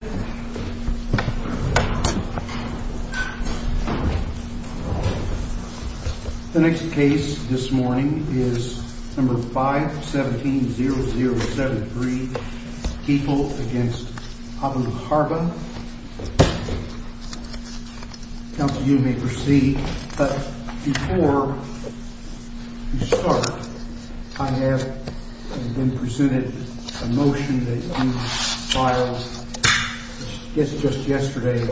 The next case this morning is number 517-0073, People v. Abuharba. Counsel, you may proceed. But before we start, I have been presented a motion that you filed just yesterday,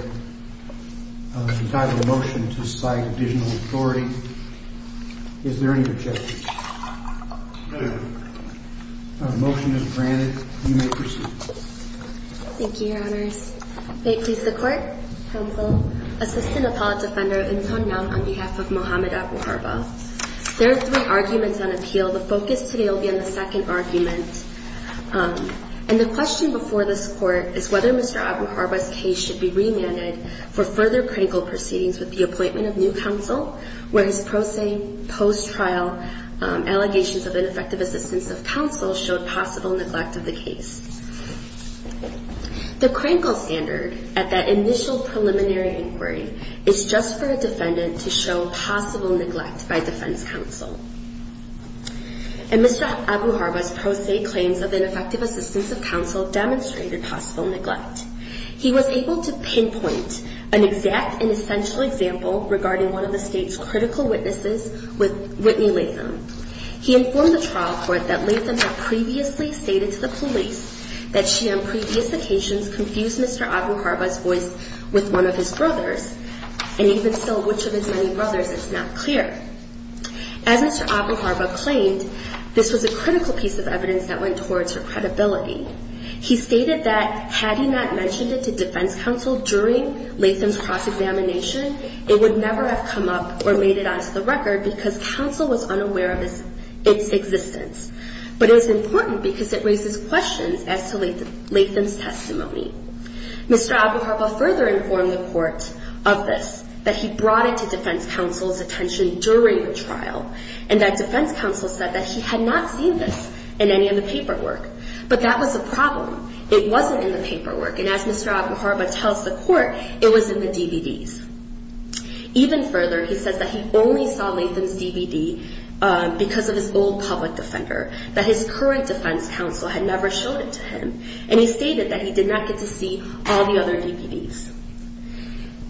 entitled Motion to Cite Additional Authority. Is there any objection? Motion is granted. You may proceed. Thank you, Your Honors. May it please the Court? Counsel, Assistant Appellate Defender, Imphan Nam, on behalf of Mohamed Abuharba. There are three arguments on appeal. The focus today will be on the second argument. And the question before this Court is whether Mr. Abuharba's case should be remanded for further critical proceedings with the appointment of new counsel, where his pro se, post-trial allegations of ineffective assistance of counsel showed possible neglect of the case. The Krinkle standard at that initial preliminary inquiry is just for a defendant to show possible neglect by defense counsel. And Mr. Abuharba's pro se claims of ineffective assistance of counsel demonstrated possible neglect. He was able to pinpoint an exact and essential example regarding one of the State's critical witnesses, Whitney Latham. He informed the trial court that Latham had previously stated to the police that she, on previous occasions, confused Mr. Abuharba's voice with one of his brothers. And even still, which of his many brothers, it's not clear. As Mr. Abuharba claimed, this was a critical piece of evidence that went towards her credibility. He stated that had he not mentioned it to defense counsel during Latham's cross-examination, it would never have come up or made it onto the record because counsel was unaware of its existence. But it's important because it raises questions as to Latham's testimony. Mr. Abuharba further informed the court of this, that he brought it to defense counsel's attention during the trial, and that defense counsel said that he had not seen this in any of the paperwork. But that was the problem. It wasn't in the paperwork. And as Mr. Abuharba tells the court, it was in the DVDs. Even further, he says that he only saw Latham's DVD because of his old public defender, that his current defense counsel had never shown it to him. And he stated that he did not get to see all the other DVDs.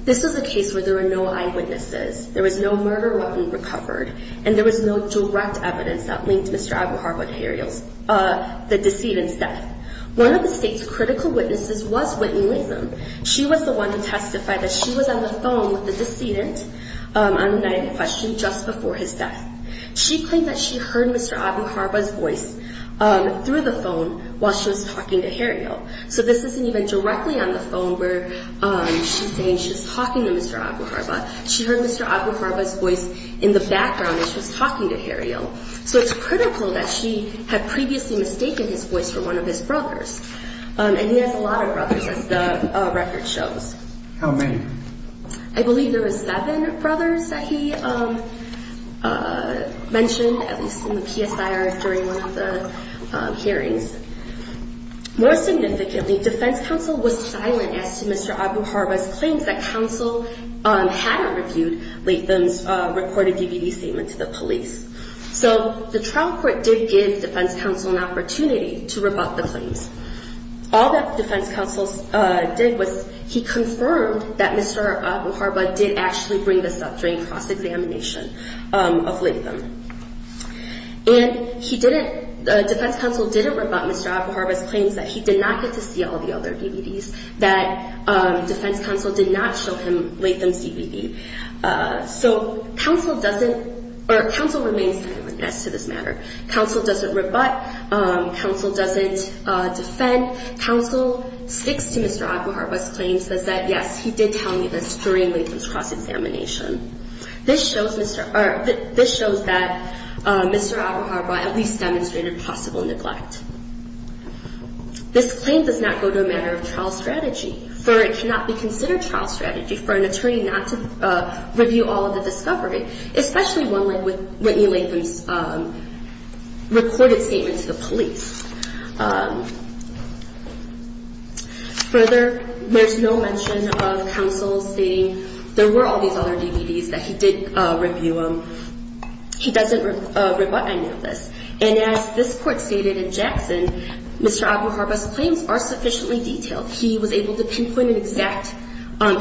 This was a case where there were no eyewitnesses. There was no murder weapon recovered, and there was no direct evidence that linked Mr. Abuharba to the decedent's death. One of the state's critical witnesses was Whitney Latham. She was the one who testified that she was on the phone with the decedent on a night in question just before his death. She claimed that she heard Mr. Abuharba's voice through the phone while she was talking to Hario. So this isn't even directly on the phone where she's saying she was talking to Mr. Abuharba. She heard Mr. Abuharba's voice in the background as she was talking to Hario. So it's critical that she had previously mistaken his voice for one of his brothers. And he has a lot of brothers, as the record shows. How many? I believe there were seven brothers that he mentioned, at least in the PSIR during one of the hearings. More significantly, defense counsel was silent as to Mr. Abuharba's claims that counsel hadn't reviewed Latham's reported DVD statement to the police. So the trial court did give defense counsel an opportunity to rebut the claims. All that defense counsel did was he confirmed that Mr. Abuharba did actually bring this up during cross-examination of Latham. And defense counsel didn't rebut Mr. Abuharba's claims that he did not get to see all the other DVDs, that defense counsel did not show him Latham's DVD. So counsel remains silent as to this matter. Counsel doesn't rebut. Counsel doesn't defend. Counsel sticks to Mr. Abuharba's claims that, yes, he did tell me this during Latham's cross-examination. This shows that Mr. Abuharba at least demonstrated possible neglect. This claim does not go to a matter of trial strategy, for it cannot be considered trial strategy for an attorney not to review all of the discovery, especially one like Whitney Latham's reported statement to the police. Further, there's no mention of counsel stating there were all these other DVDs that he did review them. He doesn't rebut any of this. And as this court stated in Jackson, Mr. Abuharba's claims are sufficiently detailed. He was able to pinpoint an exact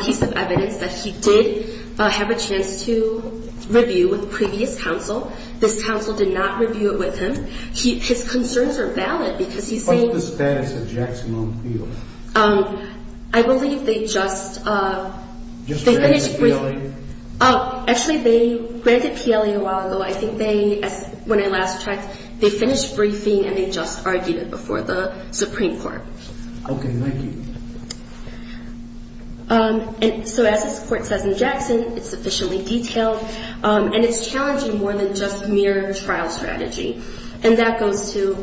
piece of evidence that he did have a chance to review with previous counsel. This counsel did not review it with him. His concerns are valid, because he's saying... I believe they just... Actually, they granted PLA a while ago. I think they, when I last checked, they finished briefing and they just argued it before the Supreme Court. And so as this court says in Jackson, it's sufficiently detailed, and it's challenging more than just mere trial strategy. And that goes to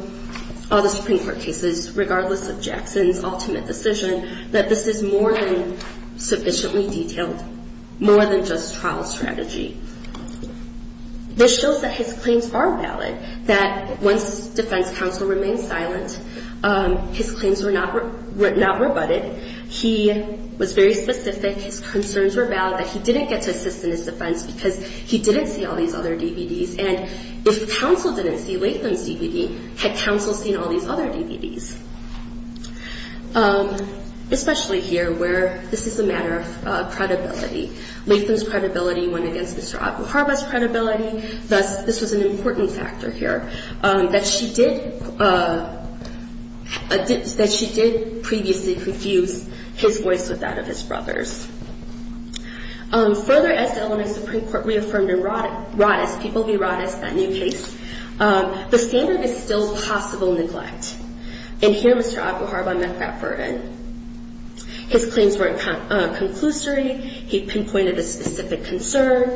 all the Supreme Court cases, regardless of Jackson's ultimate decision, that this is more than sufficiently detailed, more than just trial strategy. This shows that his claims are valid, that once defense counsel remained silent, his claims were not rebutted. He was very specific. His concerns were valid, that he didn't get to assist in his defense because he didn't see all these other DVDs. And if counsel didn't see Latham's DVD, had counsel seen all these other DVDs? Especially here, where this is a matter of credibility. Latham's credibility went against Mr. Abuharba's credibility. Thus, this was an important factor here, that she did previously confuse his voice with that of his brother's. Further, as the Illinois Supreme Court reaffirmed in Roddice, People v. Roddice, that new case, the standard is still possible neglect. And here, Mr. Abuharba met that burden. His claims weren't conclusory. He pinpointed a specific concern.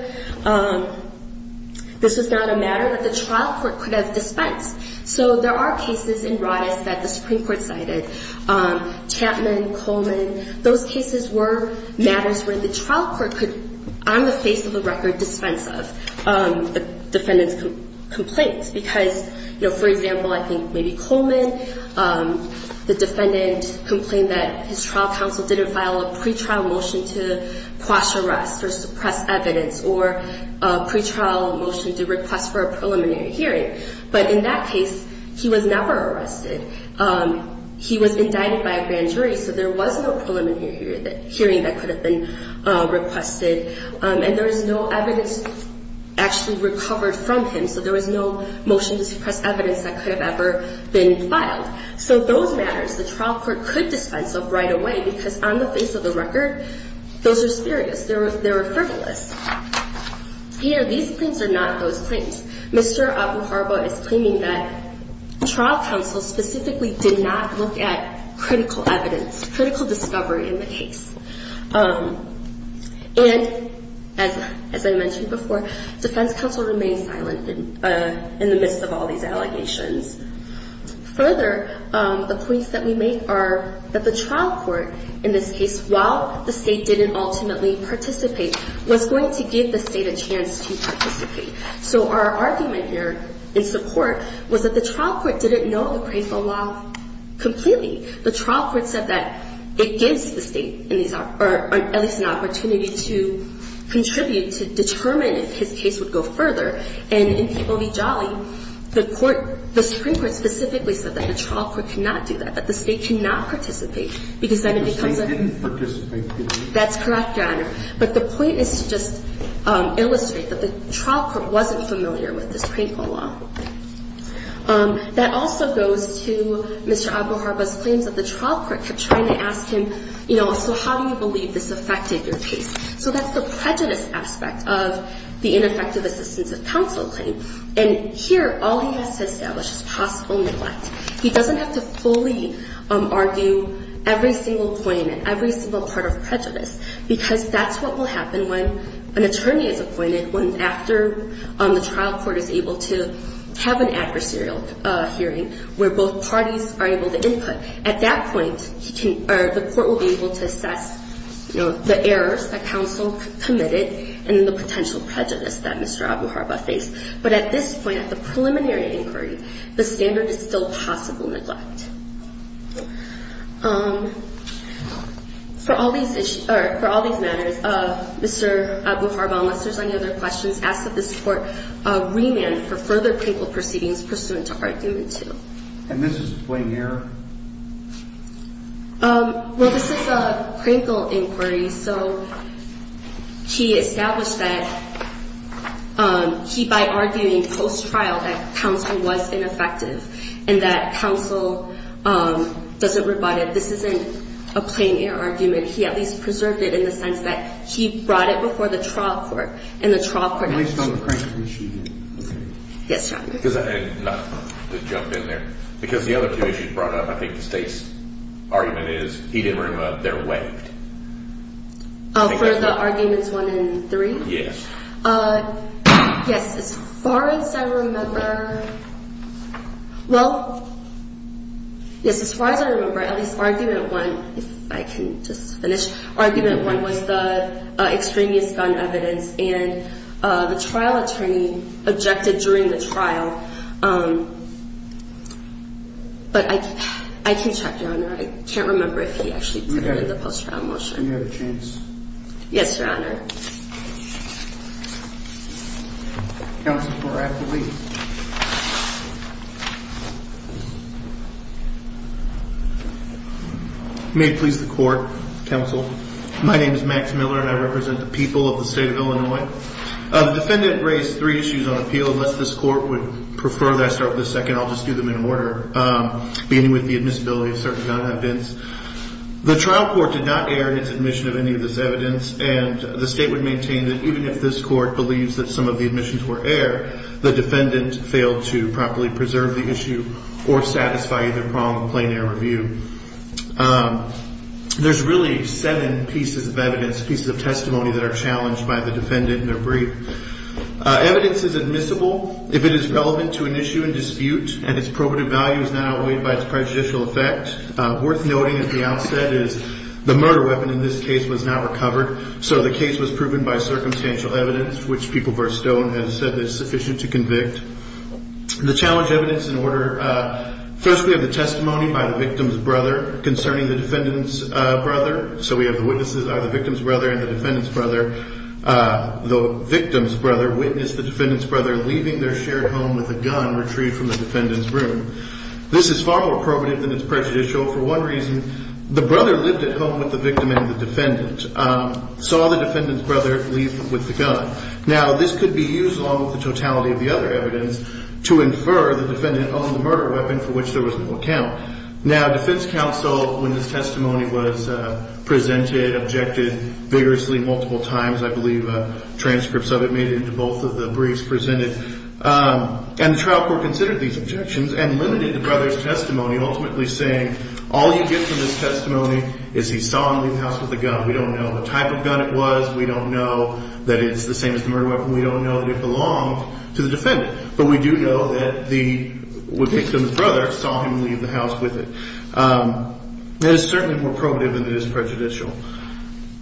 This was not a matter that the trial court could have dispensed. So there are cases in Roddice that the Supreme Court cited. Chapman, Coleman, those cases were matters where the trial court could, on the face of the record, dispense of the defendant's complaint. Because, for example, I think maybe Coleman, the defendant complained that his trial court had requested or pre-trial motioned to request for a preliminary hearing. But in that case, he was never arrested. He was indicted by a grand jury, so there was no preliminary hearing that could have been requested. And there was no evidence actually recovered from him. So there was no motion to suppress evidence that could have ever been filed. So those matters, the trial court could dispense of right away, because on the face of the record, those are spurious. They were frivolous. Here, these claims are not those claims. Mr. Abuharba is claiming that trial counsel specifically did not look at critical evidence, critical discovery in the case. And, as I mentioned before, defense counsel remained silent in the midst of all these allegations. Further, the points that we make are that the trial court, in this case, while the state didn't ultimately participate, was going to give the state a chance to participate. So our argument here, in support, was that the trial court didn't know the pre-trial law completely. The trial court said that it gives the state at least an opportunity to contribute to determine if his case would go further. And, in People v. Jolly, the Supreme Court specifically said that the trial court cannot do that, that the state cannot participate, because then it becomes a... The state didn't participate. That's correct, Your Honor. But the point is to just illustrate that the trial court wasn't familiar with this painful law. That also goes to Mr. Abuharba's claims that the trial court kept trying to ask him, you know, so how do you believe this affected your case? So that's the prejudice aspect of the ineffective assistance of counsel claim. And here, all he has to establish is possible neglect. He doesn't have to fully argue every single point, every single part of prejudice, because that's what will happen when an attorney is appointed, when after the trial court is able to have an adversarial hearing, where both parties are able to input. At that point, he can or the court will be able to assess, you know, the error of the errors that counsel committed and the potential prejudice that Mr. Abuharba faced. But at this point, at the preliminary inquiry, the standard is still possible neglect. For all these issues, or for all these matters, Mr. Abuharba, unless there's any other questions, asks that this court remand for further painful proceedings pursuant to argument two. And this is plain error? Well, this is a critical inquiry, so he established that he, by arguing post-trial, that counsel was ineffective, and that counsel doesn't rebut it. This isn't a plain error argument. He at least preserved it in the sense that he brought it before the trial court, and the trial court... Yes, John. Not to jump in there, because the other two issues brought up, I think the state's argument is, he didn't remove, they're waived. For the arguments one and three? Yes. Yes, as far as I remember, well, yes, as far as I remember, at least argument one, if I can just finish, argument one was the trial attorney objected during the trial, but I can't remember if he actually did the post-trial motion. You have a chance. Yes, Your Honor. May it please the court, counsel, my name is Max Miller, and I represent the people of the state of Illinois. The defendant raised three issues on appeal, unless this court would prefer that I start with the second, I'll just do them in order, beginning with the admissibility of certain non-evidence. The trial court did not air its admission of any of this evidence, and the state would maintain that even if this court believes that some of the admissions were air, the defendant failed to properly preserve the issue or satisfy either prong of plain error review. There's really seven pieces of evidence, pieces of testimony that are challenged by the defendant in their brief. Evidence is admissible if it is relevant to an issue in dispute, and its probative value is not outweighed by its prejudicial effect. Worth noting at the outset is the murder weapon in this case was not recovered, so the case was proven by circumstantial evidence, which People v. Stone has said is sufficient to convict. The challenge evidence in order, first we have the testimony by the victim's brother concerning the defendant's brother, so we have the witnesses are the victim's brother and the defendant's brother. The victim's brother witnessed the defendant's brother leaving their shared home with a gun retrieved from the defendant's room. This is far more probative than its prejudicial. For one reason, the brother lived at home with the victim and the defendant, saw the defendant's brother leave with the gun. Now, this could be used along with the totality of the other evidence to infer the defendant owned the murder weapon for which there was no account. Now, defense counsel, when this testimony was presented, objected vigorously multiple times, I believe transcripts of it made it into both of the briefs presented, and the trial court considered these objections and limited the brother's testimony, ultimately saying, all you get from this testimony is he saw him leave the house with a gun. We don't know what type of gun it was. We don't know that it's the same as the murder weapon. We don't know that it belonged to the defendant, but we do know that the victim's brother saw him leave the house with it. That is certainly more probative than it is prejudicial.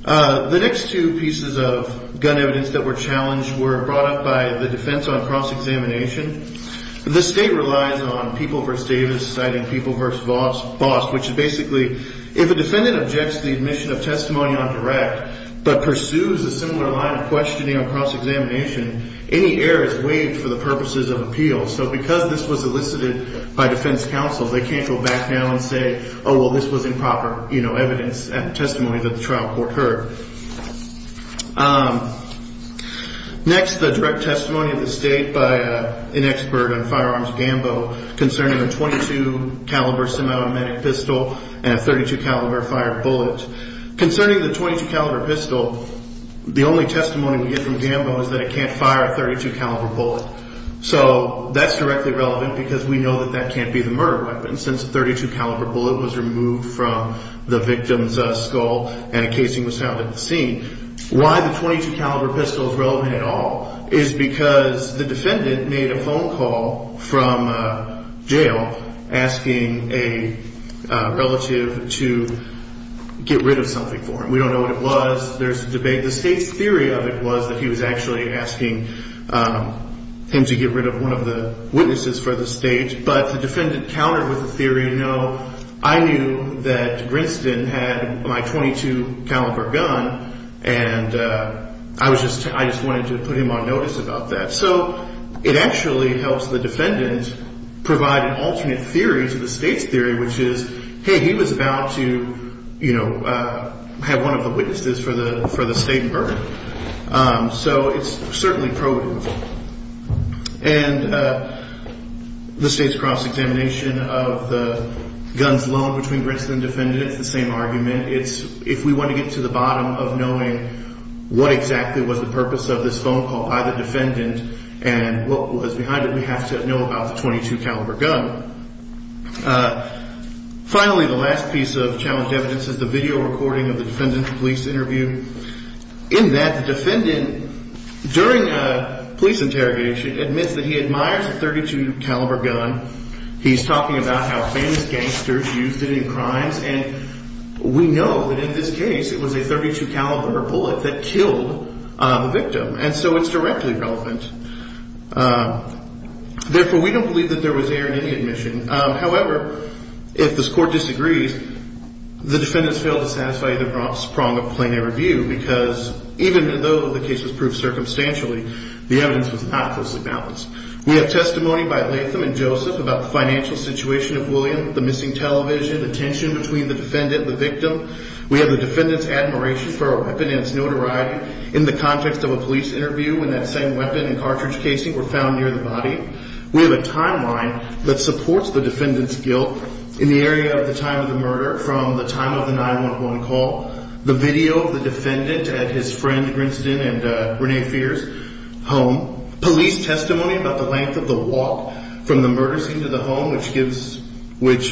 The next two pieces of gun evidence that were challenged were brought up by the defense on cross-examination. The state relies on People v. Davis citing People v. Vost, which is basically, if a defendant objects to the admission of testimony on direct, but pursues a similar line of questioning on cross-examination, any error is waived for the purposes of appeal. So because this was elicited by defense counsel, they can't go back now and say, oh, well, this was improper evidence and testimony that the trial court heard. Next, the direct testimony of the state by an expert on firearms Gambo concerning a .22 caliber semi-automatic pistol and a .32 caliber fire bullet. Concerning the .22 caliber pistol, the only testimony we get from Gambo is that it can't fire a .32 caliber bullet. So that's directly relevant because we know that that can't be the murder weapon, since a .32 caliber bullet was removed from the victim's skull and a casing was found at the scene. Why the .22 caliber pistol is relevant at all is because the defendant made a phone call from jail asking a relative to get rid of something for him. We don't know what it was. There's a debate. The state's theory of it was that he was actually asking him to get rid of one of the witnesses for the state, but the defendant countered with the theory, no, I knew that Princeton had my .22 caliber gun, and I just wanted to put him on notice about that. So it actually helps the defendant provide an alternate theory to the state's theory, which is, hey, he was about to have one of the witnesses for the state murder. So it's certainly provable. And the state's cross-examination of the guns loaned between Princeton and the defendant, it's the same argument. It's if we want to get to the bottom of knowing what exactly was the purpose of this phone call by the defendant and what was behind it, we have to know about the .22 caliber gun. Finally, the last piece of challenged evidence is the video recording of the defendant's police interview, in that the defendant, during a police interrogation, admits that he admires the .32 caliber gun. He's talking about how famous gangsters used it in crimes, and we know that in this case it was a .32 caliber bullet that killed the victim, and so it's directly relevant. Therefore, we don't believe that there was error in any admission. However, if the court disagrees, the defendants fail to satisfy either prong of plenary review, because even though the case was proved circumstantially, the evidence was not closely balanced. We have testimony by Latham and Joseph about the financial situation of William, the missing television, the tension between the defendant and the victim. We have the defendant's admiration for a weapon and its notoriety in the context of a police interview, when that same weapon and cartridge casing were found near the body. We have a timeline that supports the defendant's guilt in the area of the time of the murder, from the time of the 9-1-1 call, the video of the defendant at his friend's, Princeton and Rene Fierce, home. Police testimony about the length of the walk from the murder scene to the home, which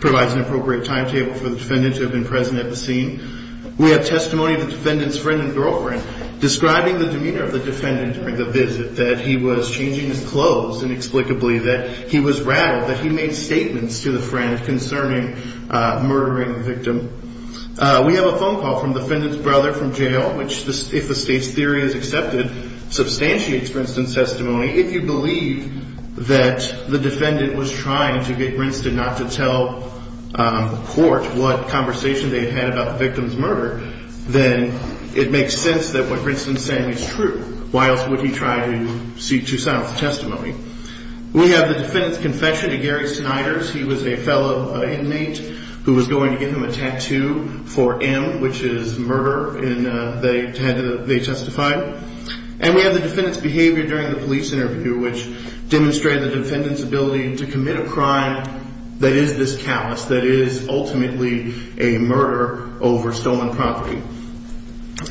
provides an appropriate timetable for the defendants who have been present at the scene. We have testimony of the defendant's friend and girlfriend describing the demeanor of the defendant during the visit, that he was changing his clothes inexplicably, that he was rattled, that he made statements to the friend concerning murdering the victim. We have a phone call from the defendant's brother from jail, which, if the state's theory is accepted, substantiates Princeton's testimony. If you believe that the defendant was trying to get Princeton not to tell the court what conversation they had had about the victim's murder, then it makes sense that what Princeton's saying is true. Why else would he try to seek Tucson's testimony? We have the defendant's confession to Gary Sniders. He was a fellow inmate who was going to give him a tattoo for M, which is murder, and they testified. And we have the defendant's behavior during the police interview, which demonstrated the defendant's ability to commit a crime that is this callous, that is ultimately a murder over stolen property.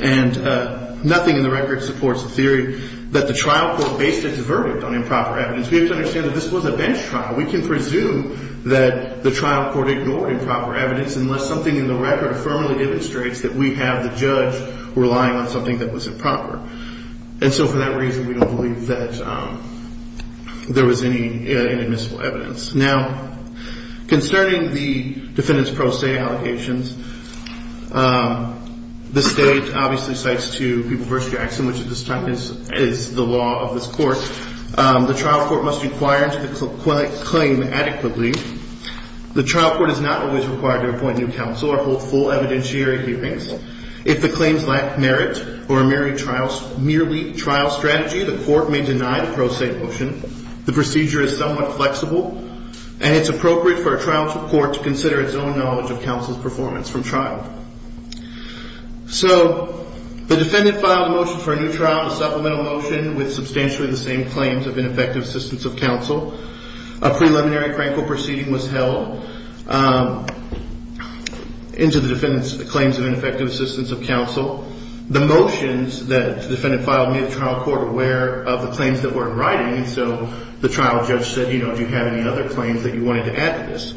And nothing in the record supports the theory that the trial court based its verdict on improper evidence. We have to understand that this was a bench trial. We can presume that the trial court ignored improper evidence unless something in the record firmly demonstrates that we have the judge relying on something that was improper. And so for that reason, we don't believe that there was any inadmissible evidence. Now, concerning the defendant's pro se allegations, the state obviously cites two people versus Jackson, which at this time is the law of this court. The trial court must inquire into the claim adequately. The trial court is not always required to appoint new counsel or hold full evidentiary hearings. If the claims lack merit or are merely trial strategy, the court may deny the pro se motion. The procedure is somewhat flexible, and it's appropriate for a trial court to consider its own knowledge of counsel's performance from trial. So the defendant filed a motion for a new trial, filed a supplemental motion with substantially the same claims of ineffective assistance of counsel. A preliminary crankle proceeding was held into the defendant's claims of ineffective assistance of counsel. The motions that the defendant filed made the trial court aware of the claims that were in writing, and so the trial judge said, you know, do you have any other claims that you wanted to add to this?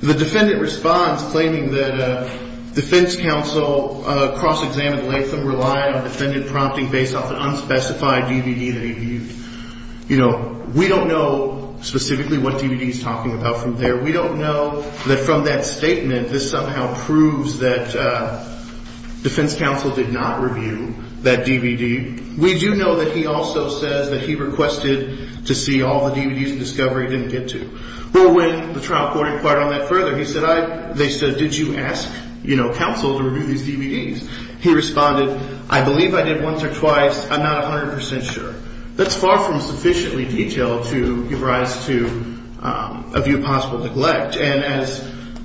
The defendant responds claiming that defense counsel cross-examined length of time to review the DVDs. I don't think the defendant relied on defendant prompting based off an unspecified DVD that he viewed. You know, we don't know specifically what DVD he's talking about from there. We don't know that from that statement, this somehow proves that defense counsel did not review that DVD. We do know that he also says that he requested to see all the DVDs that Discovery didn't get to. Well, when the trial court inquired on that further, they said, did you ask, you know, counsel to review these DVDs? He responded, I believe I did once or twice. I'm not 100% sure. That's far from sufficiently detailed to give rise to a view of possible neglect, and as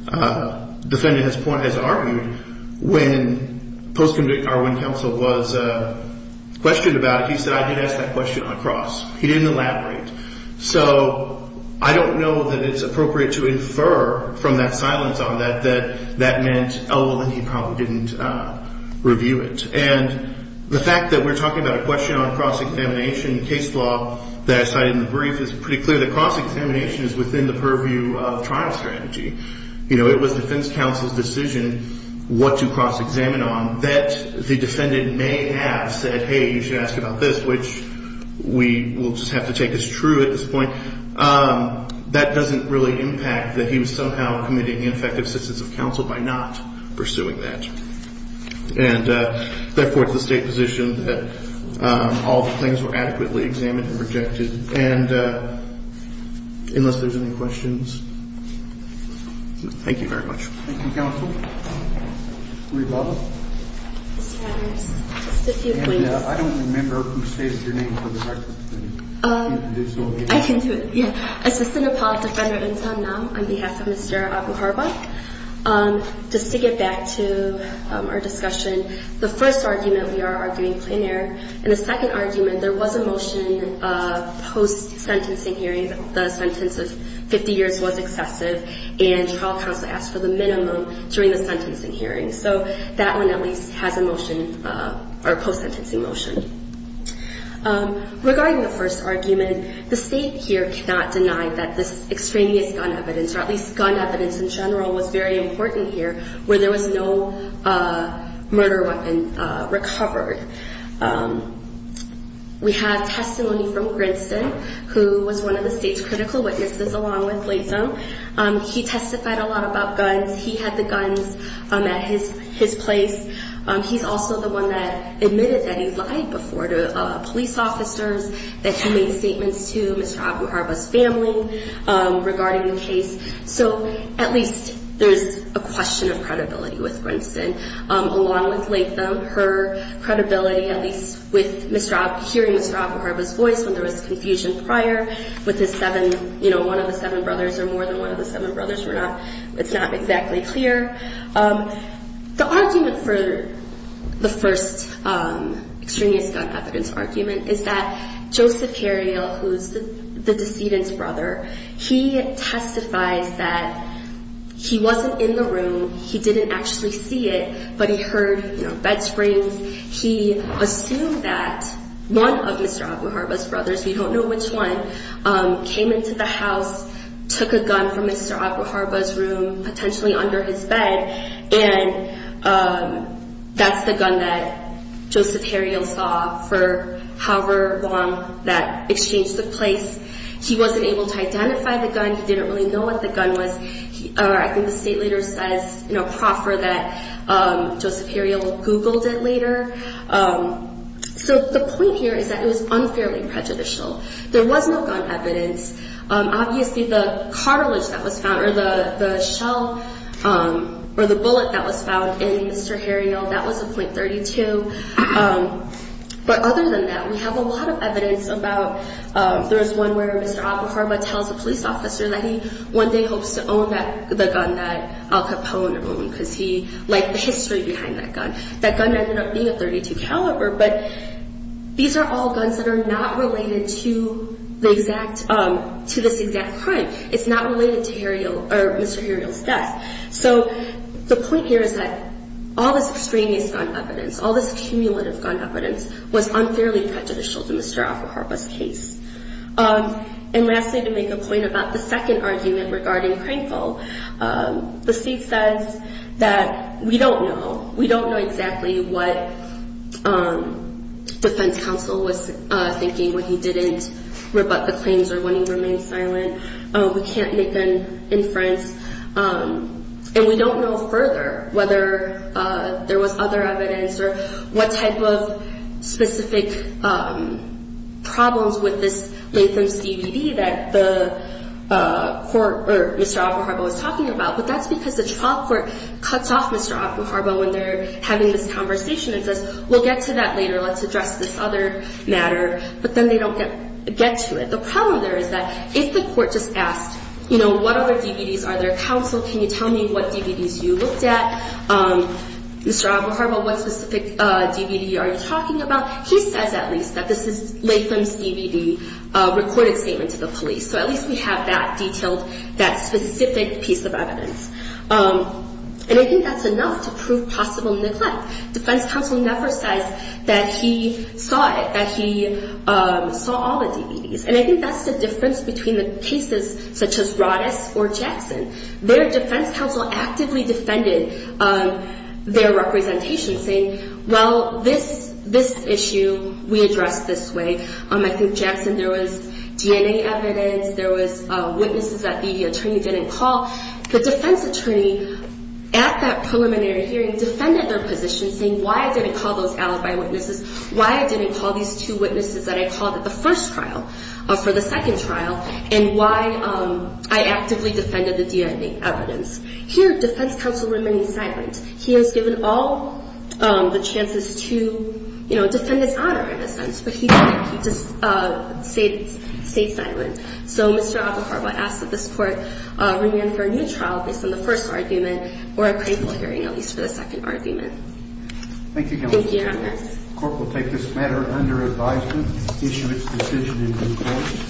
the defendant has argued, when counsel was questioned about it, he said, I did ask that question on the cross. He didn't elaborate. So I don't know that it's appropriate to infer from that silence on that that that meant, oh, well, then he probably didn't review it. And the fact that we're talking about a question on cross-examination case law that I cited in the brief is pretty clear that cross-examination is within the purview of trial strategy. You know, it was defense counsel's decision what to cross-examine on that the defendant may have said, hey, you should ask about this, which we will just have to take as true at this point. That doesn't really impact that he was somehow committing ineffective assistance of counsel by not pursuing that. And, therefore, it's the State position that all the claims were adequately examined and rejected. And unless there's any questions. Thank you very much. Thank you, counsel. Reba? Mr. Adams, just a few points. I don't remember who stated your name for the record. I can do it. Yeah. Assistant Appellate Defender Insomniac on behalf of Mr. Avancarba. Just to get back to our discussion, the first argument we are arguing clear, and the second argument, there was a motion post-sentencing hearing that the sentence of 50 years was excessive, and trial counsel asked for the minimum during the sentencing hearing. So that one at least has a motion or a post-sentencing motion. Regarding the first argument, the State here cannot deny that this extraneous gun evidence, or at least gun evidence in general, was very important here where there was no murder weapon recovered. We have testimony from Grinston, who was one of the State's critical witnesses along with Bladesome. He testified a lot about guns. He had the guns at his place. He's also the one that admitted that he lied before to police officers, that he made statements to Mr. Avancarba's family regarding the case. So at least there's a question of credibility with Grinston, along with Bladesome. Her credibility, at least with hearing Mr. Avancarba's voice when there was confusion prior with one of the seven brothers or more than one of the seven brothers, it's not exactly clear. The argument for the first extraneous gun evidence argument is that Joseph Cariel, who's the decedent's brother, he testifies that he wasn't in the room, he didn't actually see it, but he heard bed springs. He assumed that one of Mr. Avancarba's brothers, we don't know which one, came into the house, took a gun from Mr. Avancarba's room, potentially under his bed, and that's the gun that Joseph Cariel saw for however long that exchange took place. He wasn't able to identify the gun. He didn't really know what the gun was. I think the State later says in a proffer that Joseph Cariel Googled it later. So the point here is that it was unfairly prejudicial. There was no gun evidence. Obviously the cartilage that was found, or the shell, or the bullet that was found in Mr. Cariel, that was a .32. But other than that, we have a lot of evidence about, there was one where Mr. Avancarba tells a police officer that he one day hopes to own the gun that Al Capone owned because he liked the history behind that gun. That gun ended up being a .32 caliber, but these are all guns that are not related to this exact crime. It's not related to Mr. Cariel's death. So the point here is that all this extraneous gun evidence, all this cumulative gun evidence was unfairly prejudicial to Mr. Avancarba's case. And lastly, to make a point about the second argument regarding Crankville, the state says that we don't know. We don't know exactly what defense counsel was thinking when he didn't rebut the claims or when he remained silent. We can't make an inference. And we don't know further whether there was other evidence or what type of evidence that Mr. Avancarba was talking about. But that's because the trial court cuts off Mr. Avancarba when they're having this conversation and says, we'll get to that later. Let's address this other matter. But then they don't get to it. The problem there is that if the court just asked, you know, what other DVDs are there, counsel, can you tell me what DVDs you looked at? Mr. Avancarba, what specific DVD are you talking about? He says at least that this is Latham's DVD recorded statement to the police. So at least we have that detailed, that specific piece of evidence. And I think that's enough to prove possible neglect. Defense counsel never says that he saw it, that he saw all the DVDs. And I think that's the difference between the cases such as Roddus or Jackson. Their defense counsel actively defended their representation saying, well, this issue we addressed this way. I think Jackson, there was DNA evidence. There was witnesses that the attorney didn't call. The defense attorney at that preliminary hearing defended their position saying why I didn't call those alibi witnesses, why I didn't call these two witnesses that I called at the first trial for the second trial, and why I actively defended the DNA evidence. Here, defense counsel remained silent. He has given all the chances to, you know, defend his honor in a sense, but he didn't. He just stayed silent. So Mr. Agafaro asks that this court re-enter a new trial based on the first argument or a painful hearing, at least for the second argument. Thank you, counsel. Thank you, Your Honor. The court will take this matter under advisement, issue its decision in due course.